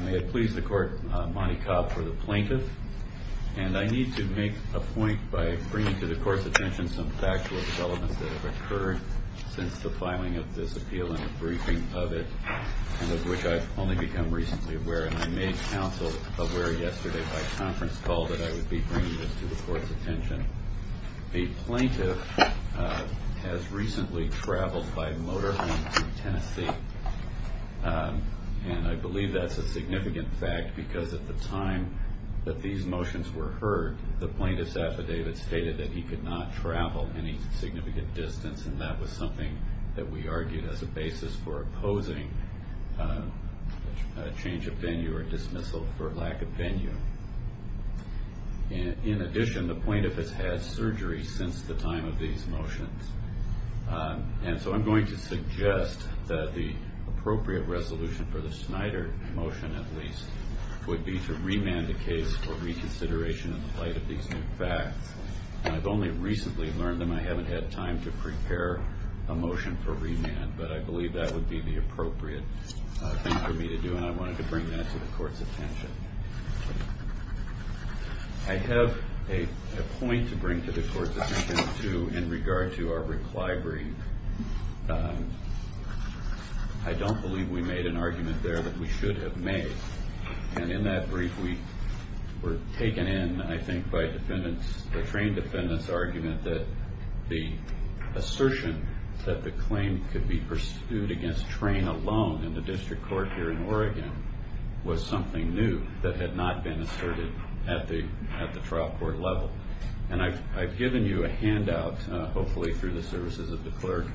May it please the court, Monty Cobb for the plaintiff. I need to make a point by bringing to the court's attention some factual developments that have occurred since the filing of this appeal and the briefing of it, and of which I've only become recently aware. I made counsel aware yesterday by conference call that I would be bringing this to the court's attention. The plaintiff has recently traveled by motor home to Tennessee, and I believe that's a significant fact because at the time that these motions were heard, the plaintiff's affidavit stated that he could not travel any significant distance, and that was something that we argued as a basis for opposing a change of venue or dismissal for lack of venue. In addition, the plaintiff has had surgery since the time of these motions, and so I'm going to suggest that the appropriate resolution for the Schneider motion, at least, would be to remand the case for reconsideration in the light of these new facts. I've only recently learned them. I haven't had time to prepare a motion for remand, but I believe that would be the appropriate thing for me to do, and I wanted to bring that to the court's attention. I have a point to bring to the court's attention, too, in regard to our reply brief. I don't believe we made an argument there that we should have made, and in that brief we were taken in, I think, by the train defendant's argument that the assertion that the claim could be pursued against train alone in the district court here in Oregon was something new. That had not been asserted at the trial court level, and I've given you a handout, hopefully through the services of the clerk,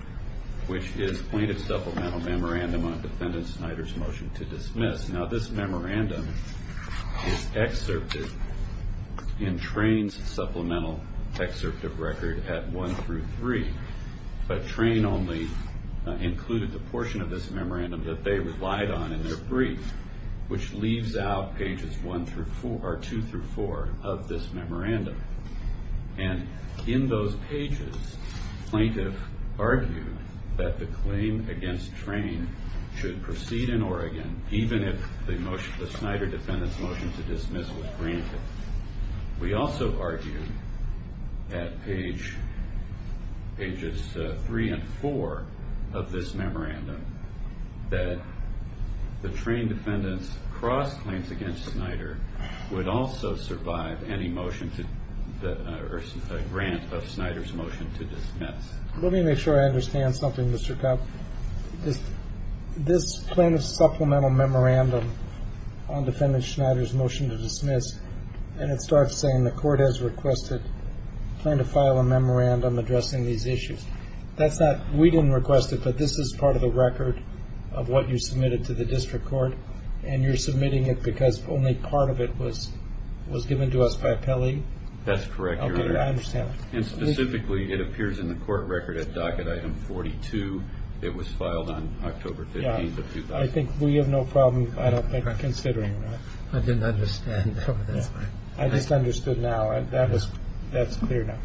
which is plaintiff's supplemental memorandum on defendant Schneider's motion to dismiss. Now, this memorandum is excerpted in train's supplemental excerpt of record at one through three, but train only included the portion of this memorandum that they relied on in their brief, which leaves out pages two through four of this memorandum. And in those pages, plaintiff argued that the claim against train should proceed in Oregon, even if the Schneider defendant's motion to dismiss was granted. We also argued at pages three and four of this memorandum that the train defendant's cross-claims against Schneider would also survive any motion to grant of Schneider's motion to dismiss. Let me make sure I understand something, Mr. Kopp. This plaintiff's supplemental memorandum on defendant Schneider's motion to dismiss, and it starts saying the court has requested plaintiff file a memorandum addressing these issues. That's not, we didn't request it, but this is part of the record of what you submitted to the district court, and you're submitting it because only part of it was given to us by Pelley? That's correct, Your Honor. Okay, I understand. And specifically, it appears in the court record at docket item 42. It was filed on October 15th of 2000. I think we have no problem, I don't think, considering that. I didn't understand. I just understood now, and that's clear now.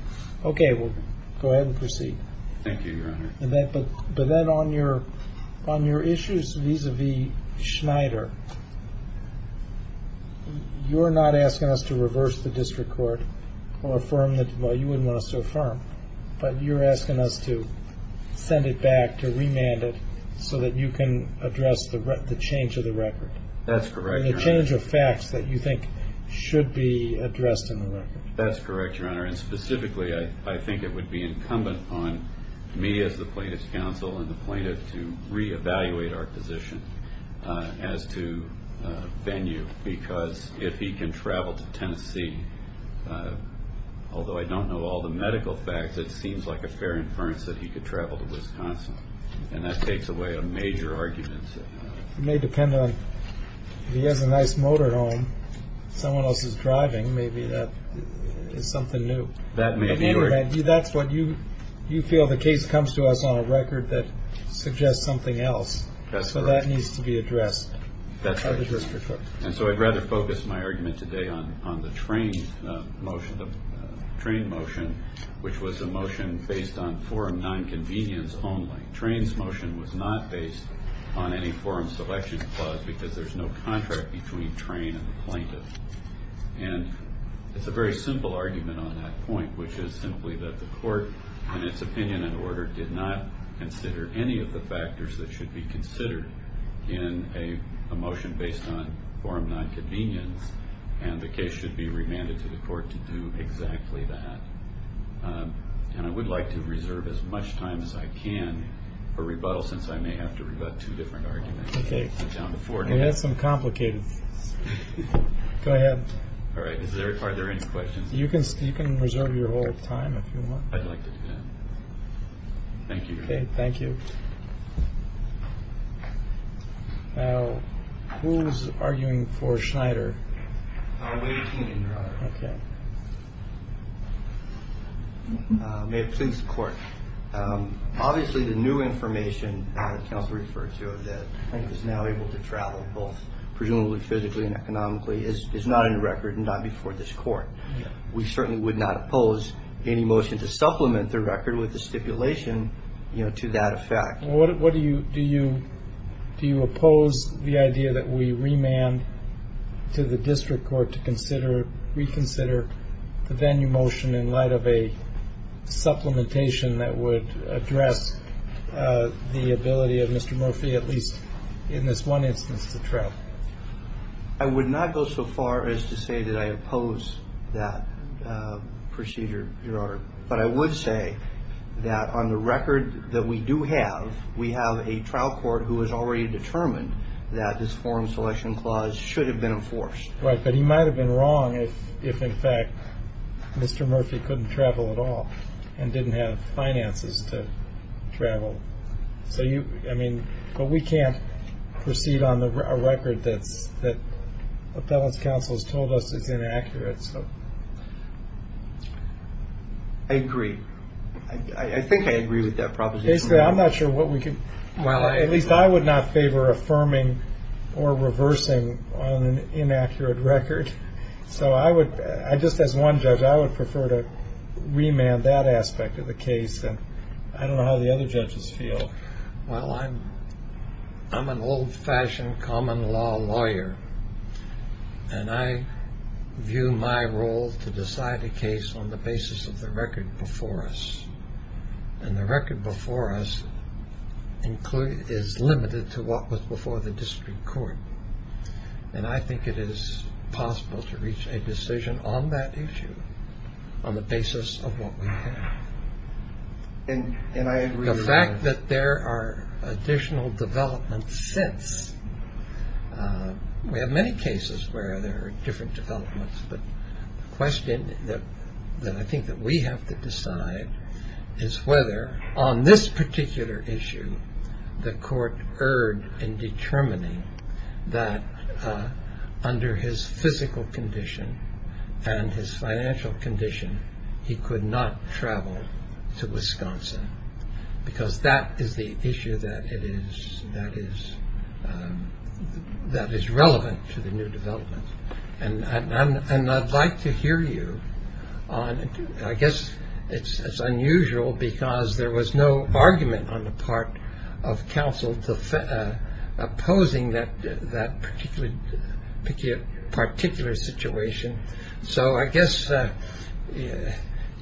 Okay, well, go ahead and proceed. Thank you, Your Honor. But then on your issues vis-à-vis Schneider, you're not asking us to reverse the district court or affirm the, well, you wouldn't want us to affirm, but you're asking us to send it back, to remand it, so that you can address the change of the record. That's correct, Your Honor. The change of facts that you think should be addressed in the record. That's correct, Your Honor. And specifically, I think it would be incumbent on me as the plaintiff's counsel and the plaintiff to reevaluate our position as to venue, because if he can travel to Tennessee, although I don't know all the medical facts, it seems like a fair inference that he could travel to Wisconsin. And that takes away a major argument. It may depend on, if he has a nice motor home, someone else is driving, maybe that is something new. That may be. That's what you feel the case comes to us on a record that suggests something else. That's correct. So that needs to be addressed by the district court. And so I'd rather focus my argument today on the train motion, which was a motion based on four and nine convenience only. Train's motion was not based on any forum selection clause, because there's no contract between train and the plaintiff. And it's a very simple argument on that point, which is simply that the court, in its opinion and order, did not consider any of the factors that should be considered in a motion based on four and nine convenience. And the case should be remanded to the court to do exactly that. And I would like to reserve as much time as I can for rebuttal, since I may have to rebut two different arguments. OK. We have some complicated. Go ahead. All right. Is there are there any questions? You can you can reserve your whole time if you want. I'd like to. Thank you. Thank you. Now, who's arguing for Schneider? We are. May it please the court. Obviously, the new information council referred to that is now able to travel both presumably physically and economically is not in the record and not before this court. We certainly would not oppose any motion to supplement the record with the stipulation to that effect. What do you do you do you oppose the idea that we remand to the district court to consider reconsider the venue motion in light of a supplementation that would address the ability of Mr. Murphy, at least in this one instance, to travel? I would not go so far as to say that I oppose that procedure. But I would say that on the record that we do have, we have a trial court who has already determined that this foreign selection clause should have been enforced. Right. But he might have been wrong if if, in fact, Mr. Murphy couldn't travel at all and didn't have finances to travel. So you I mean, but we can't proceed on the record that's that appellate counsel has told us is inaccurate. So I agree. I think I agree with that proposition. I'm not sure what we can. Well, at least I would not favor affirming or reversing an inaccurate record. So I would I just as one judge, I would prefer to remand that aspect of the case. And I don't know how the other judges feel. Well, I'm I'm an old fashioned common law lawyer. And I view my role to decide a case on the basis of the record before us. And the record before us include is limited to what was before the district court. And I think it is possible to reach a decision on that issue on the basis of what we can. And I agree the fact that there are additional developments since we have many cases where there are different developments. But the question that I think that we have to decide is whether on this particular issue, the court erred in determining that under his physical condition and his financial condition, he could not travel to Wisconsin because that is the issue that it is that is that is relevant to the new development. And I'd like to hear you on. I guess it's unusual because there was no argument on the part of counsel opposing that that particular particular situation. So I guess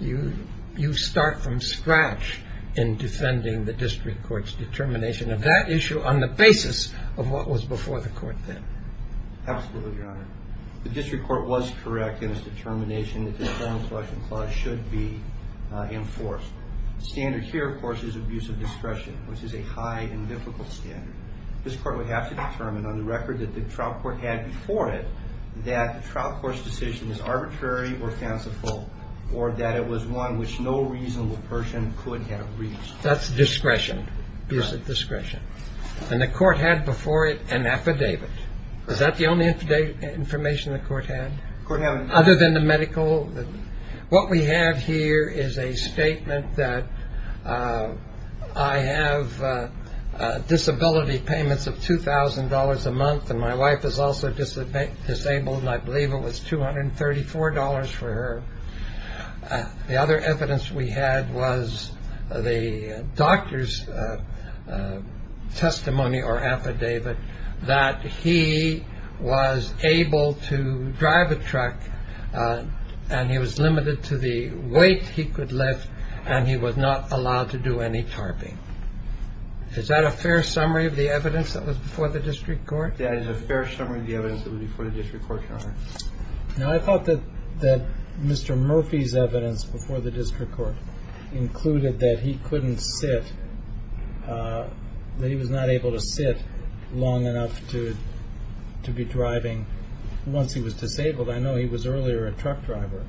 you you start from scratch in defending the district court's determination of that issue on the basis of what was before the court. Absolutely, Your Honor. The district court was correct in its determination that the Federal Selection Clause should be enforced. Standard here, of course, is abuse of discretion, which is a high and difficult standard. This court would have to determine on the record that the trial court had before it that the trial court's decision is arbitrary or fanciful or that it was one which no reasonable person could have reached. That's discretion. Discretion. And the court had before it an affidavit. Is that the only information the court had other than the medical? What we have here is a statement that I have disability payments of two thousand dollars a month. And my wife is also disabled. I believe it was two hundred and thirty four dollars for her. The other evidence we had was the doctor's testimony or affidavit that he was able to drive a truck and he was limited to the weight he could lift. And he was not allowed to do any tarping. Is that a fair summary of the evidence that was before the district court? No, I thought that that Mr. Murphy's evidence before the district court included that he couldn't sit. He was not able to sit long enough to to be driving once he was disabled. I know he was earlier a truck driver,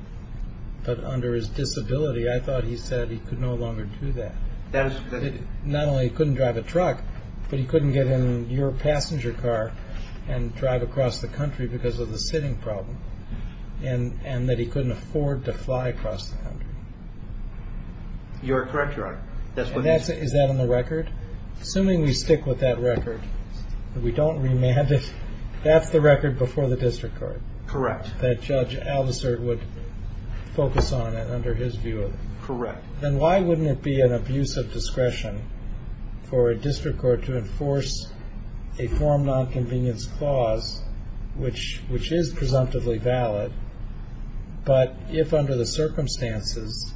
but under his disability, I thought he said he could no longer do that. Not only couldn't drive a truck, but he couldn't get in your passenger car and drive across the country because of the sitting problem. And and that he couldn't afford to fly across. You're correct. You're right. That's what is that on the record. Assuming we stick with that record, we don't remand it. That's the record before the district court. Correct. That judge Alvis would focus on it under his view. Correct. Then why wouldn't it be an abuse of discretion for a district court to enforce a form nonconvenience clause, which which is presumptively valid? But if under the circumstances,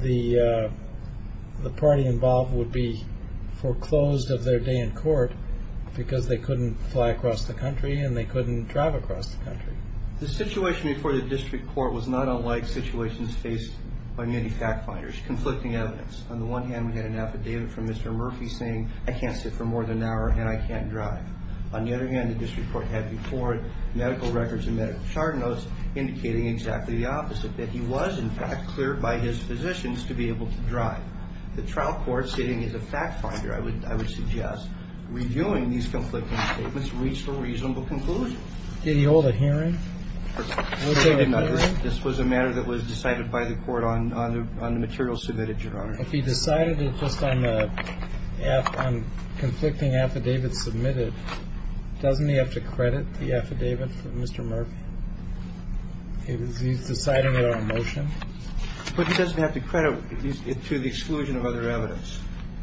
the the party involved would be foreclosed of their day in court because they couldn't fly across the country and they couldn't drive across the country. The situation before the district court was not unlike situations faced by many fact finders conflicting evidence. On the one hand, we had an affidavit from Mr. Murphy saying I can't sit for more than an hour and I can't drive. On the other hand, the district court had before medical records and medical chart notes indicating exactly the opposite, that he was, in fact, cleared by his physicians to be able to drive. The trial court sitting is a fact finder. I would I would suggest reviewing these conflicting statements reached a reasonable conclusion. Did he hold a hearing? This was a matter that was decided by the court on the material submitted. Your Honor, if he decided it just on the conflicting affidavit submitted, doesn't he have to credit the affidavit for Mr. Murphy? He's deciding it on a motion, but he doesn't have to credit it to the exclusion of other evidence.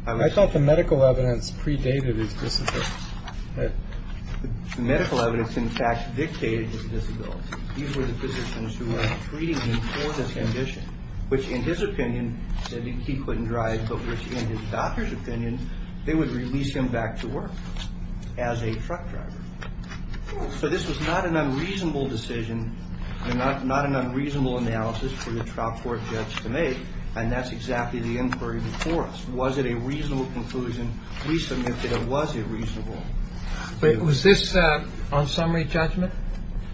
I thought the medical evidence predated his medical evidence, in fact, dictated his disability. These were the physicians who were treating him for this condition, which, in his opinion, said he couldn't drive. But in his doctor's opinion, they would release him back to work as a truck driver. So this was not an unreasonable decision, not not an unreasonable analysis for the trial court judge to make. And that's exactly the inquiry before us. Was it a reasonable conclusion? We submitted it. Was this on summary judgment?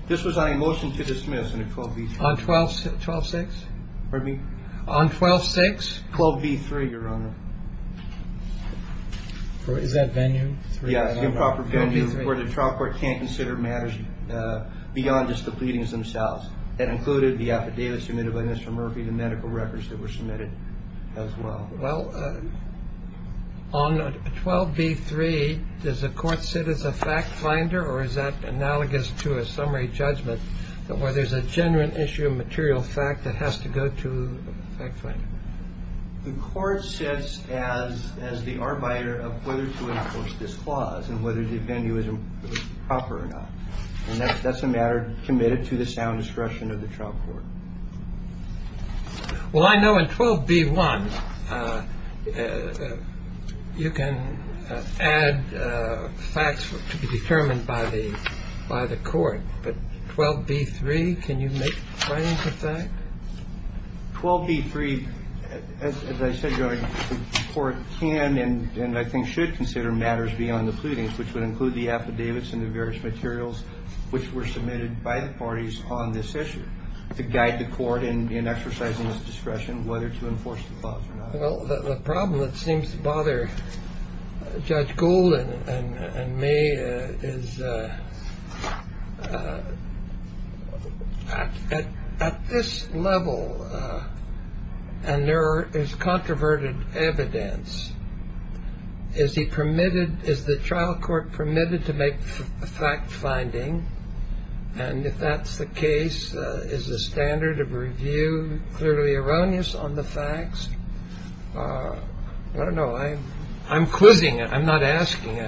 This was on a motion to dismiss on 12, 12, 6. Pardon me? On 12, 6, 12, 3. Your Honor. Is that venue? Yes. The improper venue where the trial court can't consider matters beyond just the pleadings themselves. That included the affidavit submitted by Mr. Murphy, the medical records that were submitted as well. On 12, 3, there's a court said it's a fact finder or is that analogous to a summary judgment where there's a genuine issue, a material fact that has to go to the court says as as the arbiter of whether to enforce this clause and whether the venue is proper or not. And that's a matter committed to the sound discretion of the trial court. Well, I know in 12, B1, you can add facts to be determined by the by the court. But 12, B3, can you make that 12, B3? As I said, the court can and I think should consider matters beyond the pleadings, which would include the affidavits and the various materials which were submitted by the parties on this issue. To guide the court in exercising discretion, whether to enforce the clause or not. Well, the problem that seems to bother Judge Gould and me is at this level. And there is controverted evidence. Is he permitted? Is the trial court permitted to make a fact finding? And if that's the case, is the standard of review clearly erroneous on the facts? I don't know. I'm quizzing. I'm not asking.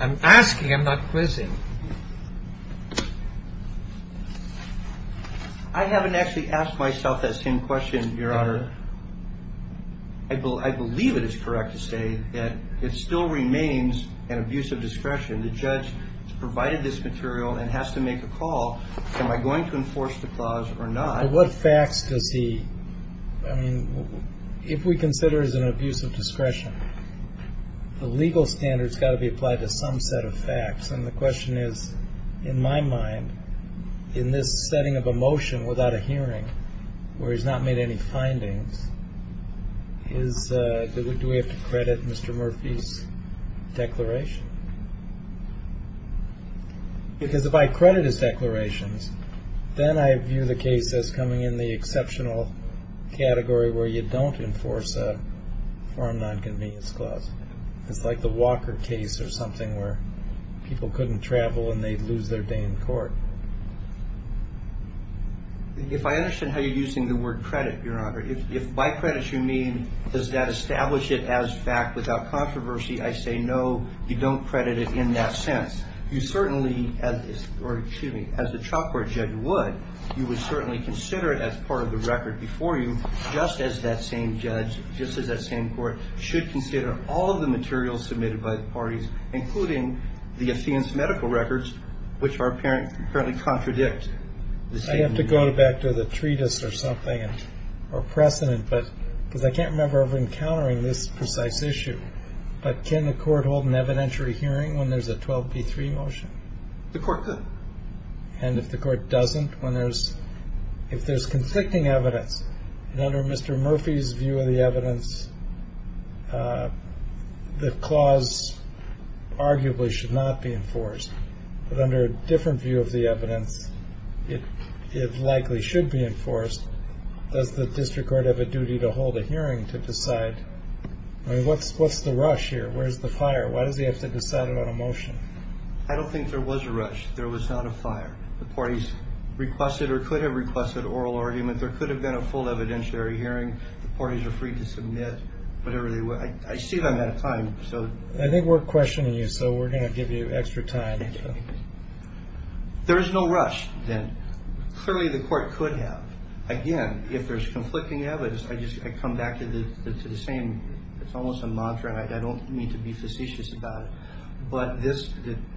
I'm asking. I'm not quizzing. I haven't actually asked myself that same question, Your Honor. And the judge has provided this material and has to make a call. Am I going to enforce the clause or not? What facts does he? I mean, if we consider as an abuse of discretion, the legal standards got to be applied to some set of facts. And the question is, in my mind, in this setting of a motion without a hearing where he's not made any findings, is do we have to credit Mr. Murphy's declaration? Because if I credit his declarations, then I view the case as coming in the exceptional category where you don't enforce a foreign nonconvenience clause. It's like the Walker case or something where people couldn't travel and they'd lose their day in court. If I understand how you're using the word credit, Your Honor, if by credit you mean does that establish it as fact without controversy, I say no, you don't credit it in that sense. You certainly, or excuse me, as a trial court judge would, you would certainly consider it as part of the record before you just as that same judge, just as that same court should consider all of the materials submitted by the parties, including the Athenian's medical records, which apparently contradict the statement. I have to go back to the treatise or something or precedent, because I can't remember ever encountering this precise issue. But can the court hold an evidentiary hearing when there's a 12B3 motion? The court could. And if the court doesn't, when there's, if there's conflicting evidence, and under Mr. Murphy's view of the evidence, the clause arguably should not be enforced. But under a different view of the evidence, it likely should be enforced. Does the district court have a duty to hold a hearing to decide? I mean, what's the rush here? Where's the fire? Why does he have to decide it on a motion? I don't think there was a rush. There was not a fire. The parties requested or could have requested oral argument. There could have been a full evidentiary hearing. The parties are free to submit whatever they want. I see that I'm out of time, so. I think we're questioning you, so we're going to give you extra time. There is no rush, then. Clearly, the court could have. Again, if there's conflicting evidence, I just, I come back to the same, it's almost a mantra, and I don't mean to be facetious about it. But this,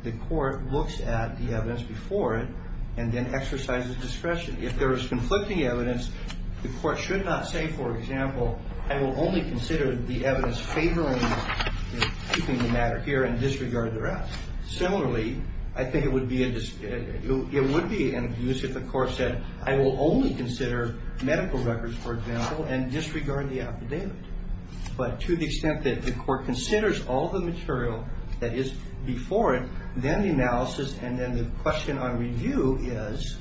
the court looks at the evidence before it and then exercises discretion. If there is conflicting evidence, the court should not say, for example, I will only consider the evidence favoring keeping the matter here and disregard the rest. Similarly, I think it would be, it would be abusive if the court said, I will only consider medical records, for example, and disregard the affidavit. But to the extent that the court considers all the material that is before it, then the analysis and then the question on review is,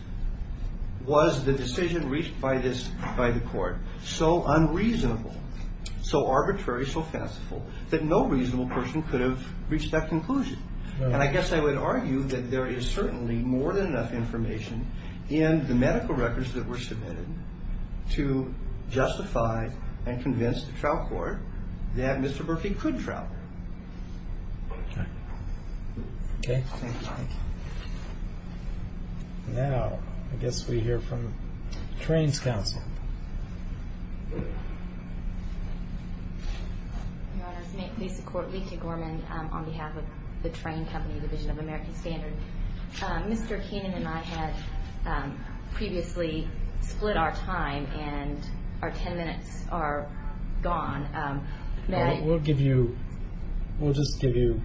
was the decision reached by this, by the court, so unreasonable, so arbitrary, so fanciful, that no reasonable person could have reached that conclusion? And I guess I would argue that there is certainly more than enough information in the medical records that were submitted to justify and convince the trial court that Mr. Murphy could travel. Okay. Okay. Thank you. Now, I guess we hear from the Trains Council. Your Honors, may it please the Court, Lekia Gorman on behalf of the Train Company, Division of American Standard. Mr. Keenan and I had previously split our time and our 10 minutes are gone. May I? We'll give you, we'll just give you,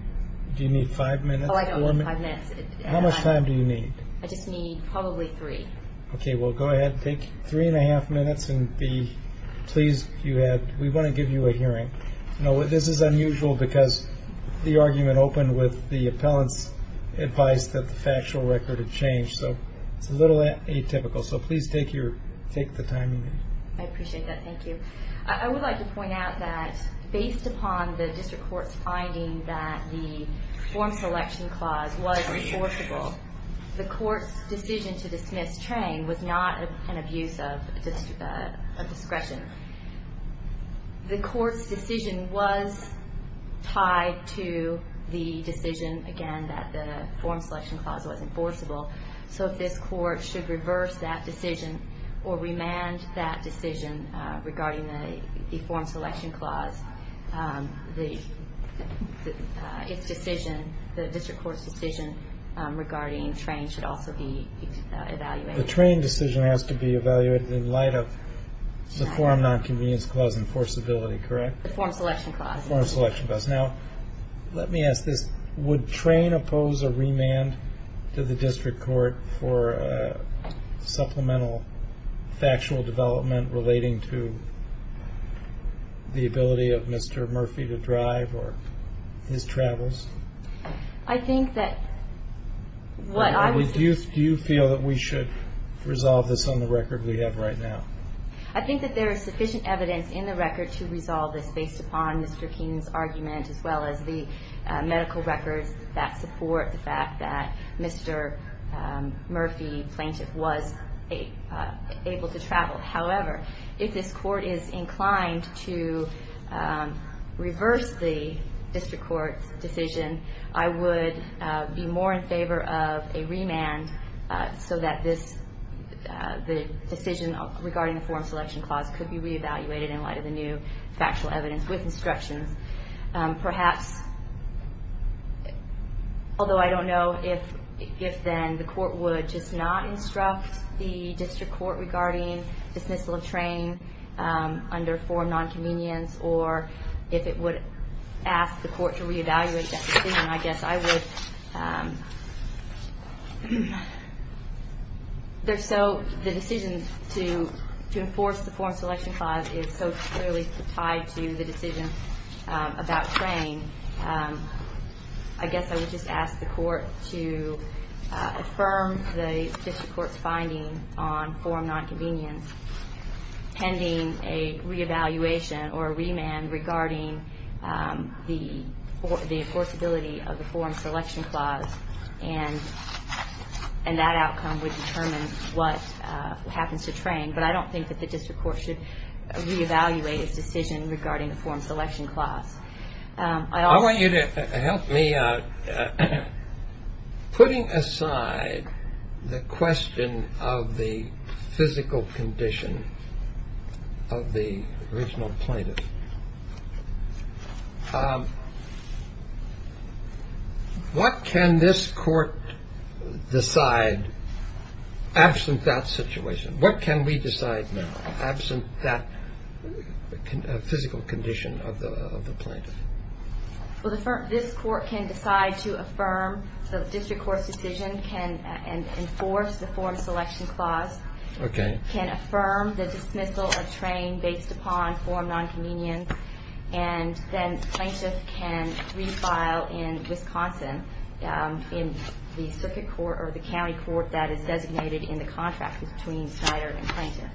do you need five minutes? Oh, I don't need five minutes. How much time do you need? I just need probably three. Okay. Well, go ahead and take three and a half minutes and be pleased you had. We want to give you a hearing. This is unusual because the argument opened with the appellant's advice that the factual record had changed, so it's a little atypical. So please take your, take the time you need. I appreciate that. Thank you. I would like to point out that based upon the district court's finding that the form selection clause was enforceable, the court's decision to dismiss Train was not an abuse of discretion. The court's decision was tied to the decision, again, that the form selection clause was enforceable. So if this court should reverse that decision or remand that decision regarding the form selection clause, its decision, the district court's decision regarding Train should also be evaluated. The Train decision has to be evaluated in light of the form nonconvenience clause enforceability, correct? The form selection clause. The form selection clause. Now, let me ask this. Would Train oppose a remand to the district court for supplemental factual development relating to the ability of Mr. Murphy to drive or his travels? I think that what I would say. Do you feel that we should resolve this on the record we have right now? I think that there is sufficient evidence in the record to resolve this based upon Mr. King's argument, as well as the medical records that support the fact that Mr. Murphy, the plaintiff, was able to travel. However, if this court is inclined to reverse the district court's decision, I would be more in favor of a remand so that the decision regarding the form selection clause could be reevaluated in light of the new factual evidence with instructions. Perhaps, although I don't know if then the court would just not instruct the district court regarding dismissal of Train under form nonconvenience or if it would ask the court to reevaluate that decision, I guess I would. The decision to enforce the form selection clause is so clearly tied to the decision about Train. I guess I would just ask the court to affirm the district court's finding on form nonconvenience pending a reevaluation or a remand regarding the enforceability of the form selection clause and that outcome would determine what happens to Train. But I don't think that the district court should reevaluate its decision regarding the form selection clause. I want you to help me. Putting aside the question of the physical condition of the original plaintiff, what can this court decide absent that situation? What can we decide now absent that physical condition of the plaintiff? Well, this court can decide to affirm the district court's decision, can enforce the form selection clause, can affirm the dismissal of Train based upon form nonconvenience, and then plaintiff can refile in Wisconsin in the circuit court or the county court that is designated in the contract between Snyder and plaintiff.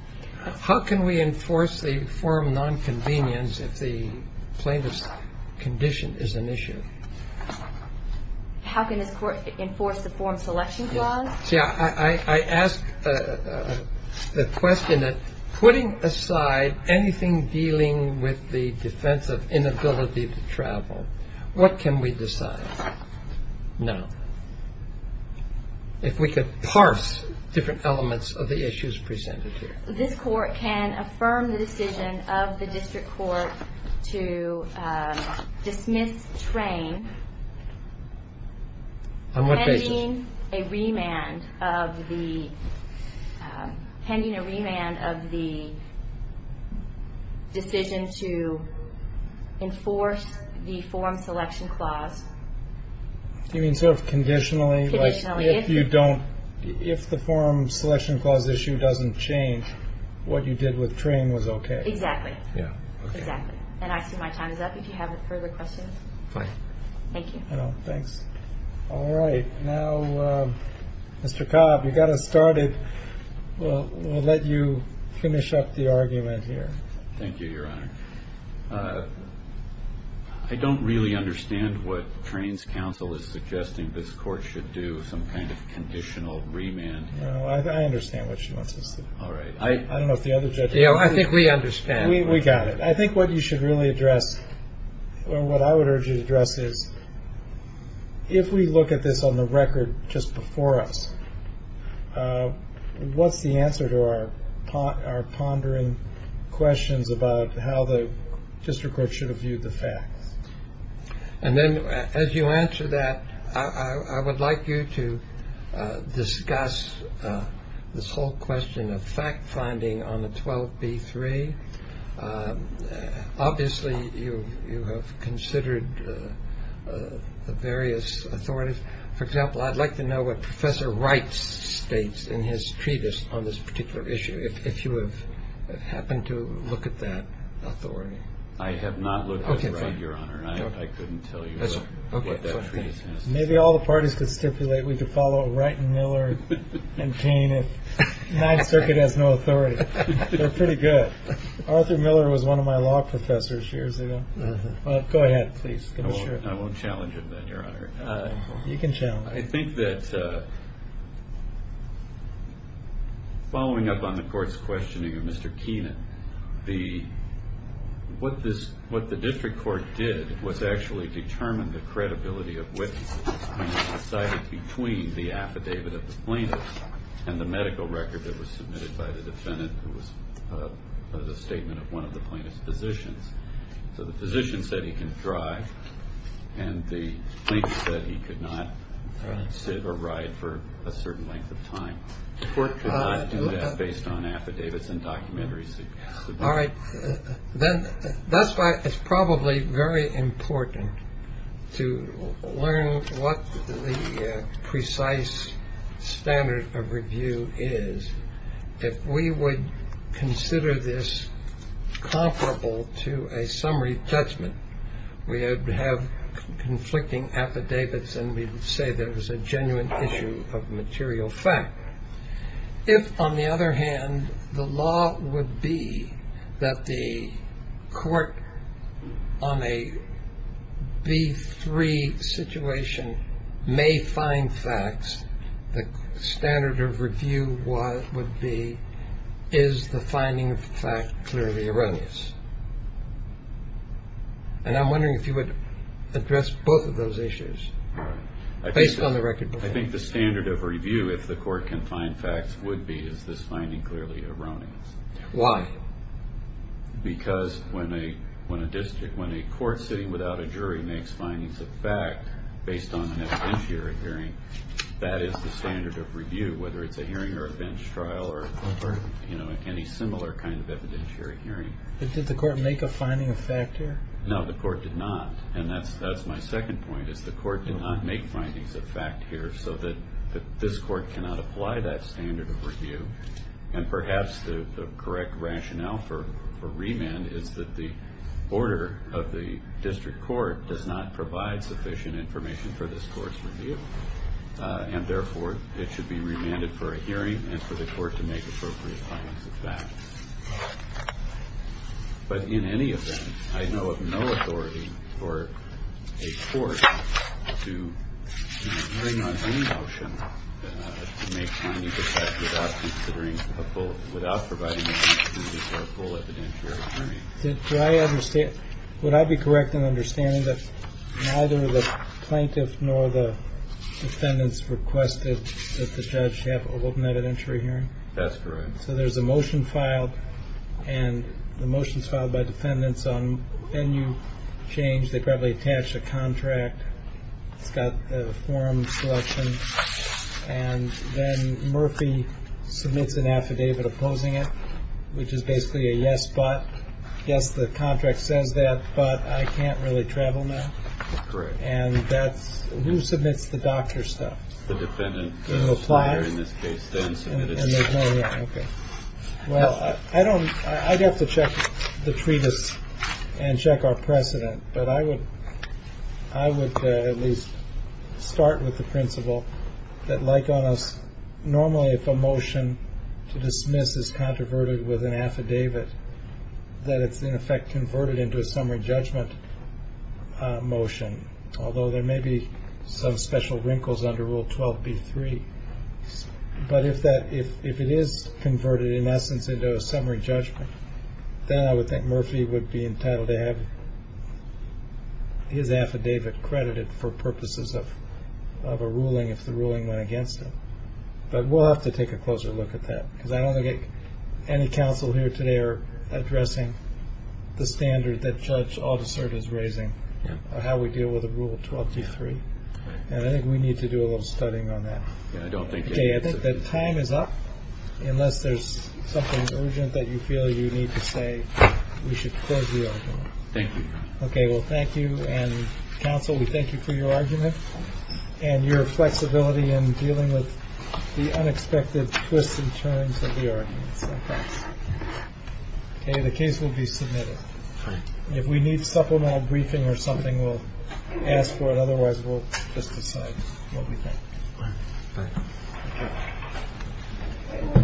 How can we enforce the form nonconvenience if the plaintiff's condition is an issue? How can this court enforce the form selection clause? I ask the question that putting aside anything dealing with the defense of inability to travel, what can we decide now? If we could parse different elements of the issues presented here. This court can affirm the decision of the district court to dismiss Train. On what basis? Pending a remand of the decision to enforce the form selection clause. You mean sort of conditionally? Conditionally. If the form selection clause issue doesn't change, what you did with Train was okay? Exactly. Yeah, okay. Exactly. And I see my time is up if you have further questions. Fine. Thank you. No, thanks. All right. Now, Mr. Cobb, you got us started. We'll let you finish up the argument here. Thank you, Your Honor. I don't really understand what Train's counsel is suggesting this court should do, some kind of conditional remand. No, I understand what she wants us to do. All right. I don't know if the other judges do. I think we understand. We got it. I think what you should really address or what I would urge you to address is, if we look at this on the record just before us, what's the answer to our pondering questions about how the district court should have viewed the facts? And then as you answer that, I would like you to discuss this whole question of fact-finding on the 12b-3. Obviously, you have considered the various authorities. For example, I'd like to know what Professor Wright states in his treatise on this particular issue, if you have happened to look at that authority. I have not looked at it, Your Honor. I couldn't tell you what that treatise has to say. Maybe all the parties could stipulate we could follow Wright and Miller and Cain if Ninth Circuit has no authority. They're pretty good. Arthur Miller was one of my law professors years ago. Go ahead, please. Give me a shirt. I won't challenge it then, Your Honor. You can challenge it. I think that following up on the court's questioning of Mr. Keenan, what the district court did was actually determine the credibility of witnesses when it was decided between the affidavit of the plaintiff and the medical record that was submitted by the defendant, who was the statement of one of the plaintiff's physicians. So the physician said he can drive and the plaintiff said he could not sit or ride for a certain length of time. The court could not do that based on affidavits and documentaries. All right. That's why it's probably very important to learn what the precise standard of review is. If we would consider this comparable to a summary judgment, we would have conflicting affidavits and we would say there was a genuine issue of material fact. If, on the other hand, the law would be that the court on a B3 situation may find facts, the standard of review would be, is the finding of fact clearly erroneous? And I'm wondering if you would address both of those issues based on the record. I think the standard of review, if the court can find facts, would be, is this finding clearly erroneous? Why? Because when a court sitting without a jury makes findings of fact based on an evidentiary hearing, that is the standard of review, whether it's a hearing or a bench trial or any similar kind of evidentiary hearing. Did the court make a finding of fact here? No, the court did not. And that's my second point, is the court did not make findings of fact here so that this court cannot apply that standard of review. And perhaps the correct rationale for remand is that the order of the district court does not provide sufficient information for this court's review, and therefore it should be remanded for a hearing and for the court to make appropriate findings of fact. But in any event, I know of no authority for a court to make a hearing on any motion to make findings of fact without considering a full, without providing an opportunity for a full evidentiary hearing. Do I understand, would I be correct in understanding that neither the plaintiff nor the defendants requested that the judge have an open evidentiary hearing? That's correct. So there's a motion filed, and the motion's filed by defendants on venue change. They probably attached a contract. It's got a form selection. And then Murphy submits an affidavit opposing it, which is basically a yes, but. Yes, the contract says that, but I can't really travel now. Correct. And that's, who submits the doctor stuff? The defendant. And it applies? Well, I don't, I'd have to check the treatise and check our precedent. But I would, I would at least start with the principle that like on us, normally if a motion to dismiss is controverted with an affidavit, that it's in effect converted into a summary judgment motion. Although there may be some special wrinkles under Rule 12B3. But if that, if it is converted in essence into a summary judgment, then I would think Murphy would be entitled to have his affidavit credited for purposes of a ruling if the ruling went against him. But we'll have to take a closer look at that, because I don't think any counsel here today are addressing the standard that we need to do a little studying on that. I don't think that time is up unless there's something urgent that you feel you need to say. We should close the argument. Thank you. Okay. Well, thank you. And counsel, we thank you for your argument and your flexibility in dealing with the unexpected twists and turns of the arguments. Okay. The case will be submitted. If we need supplemental briefing or something, we'll ask for it. Otherwise, we'll just decide what we think.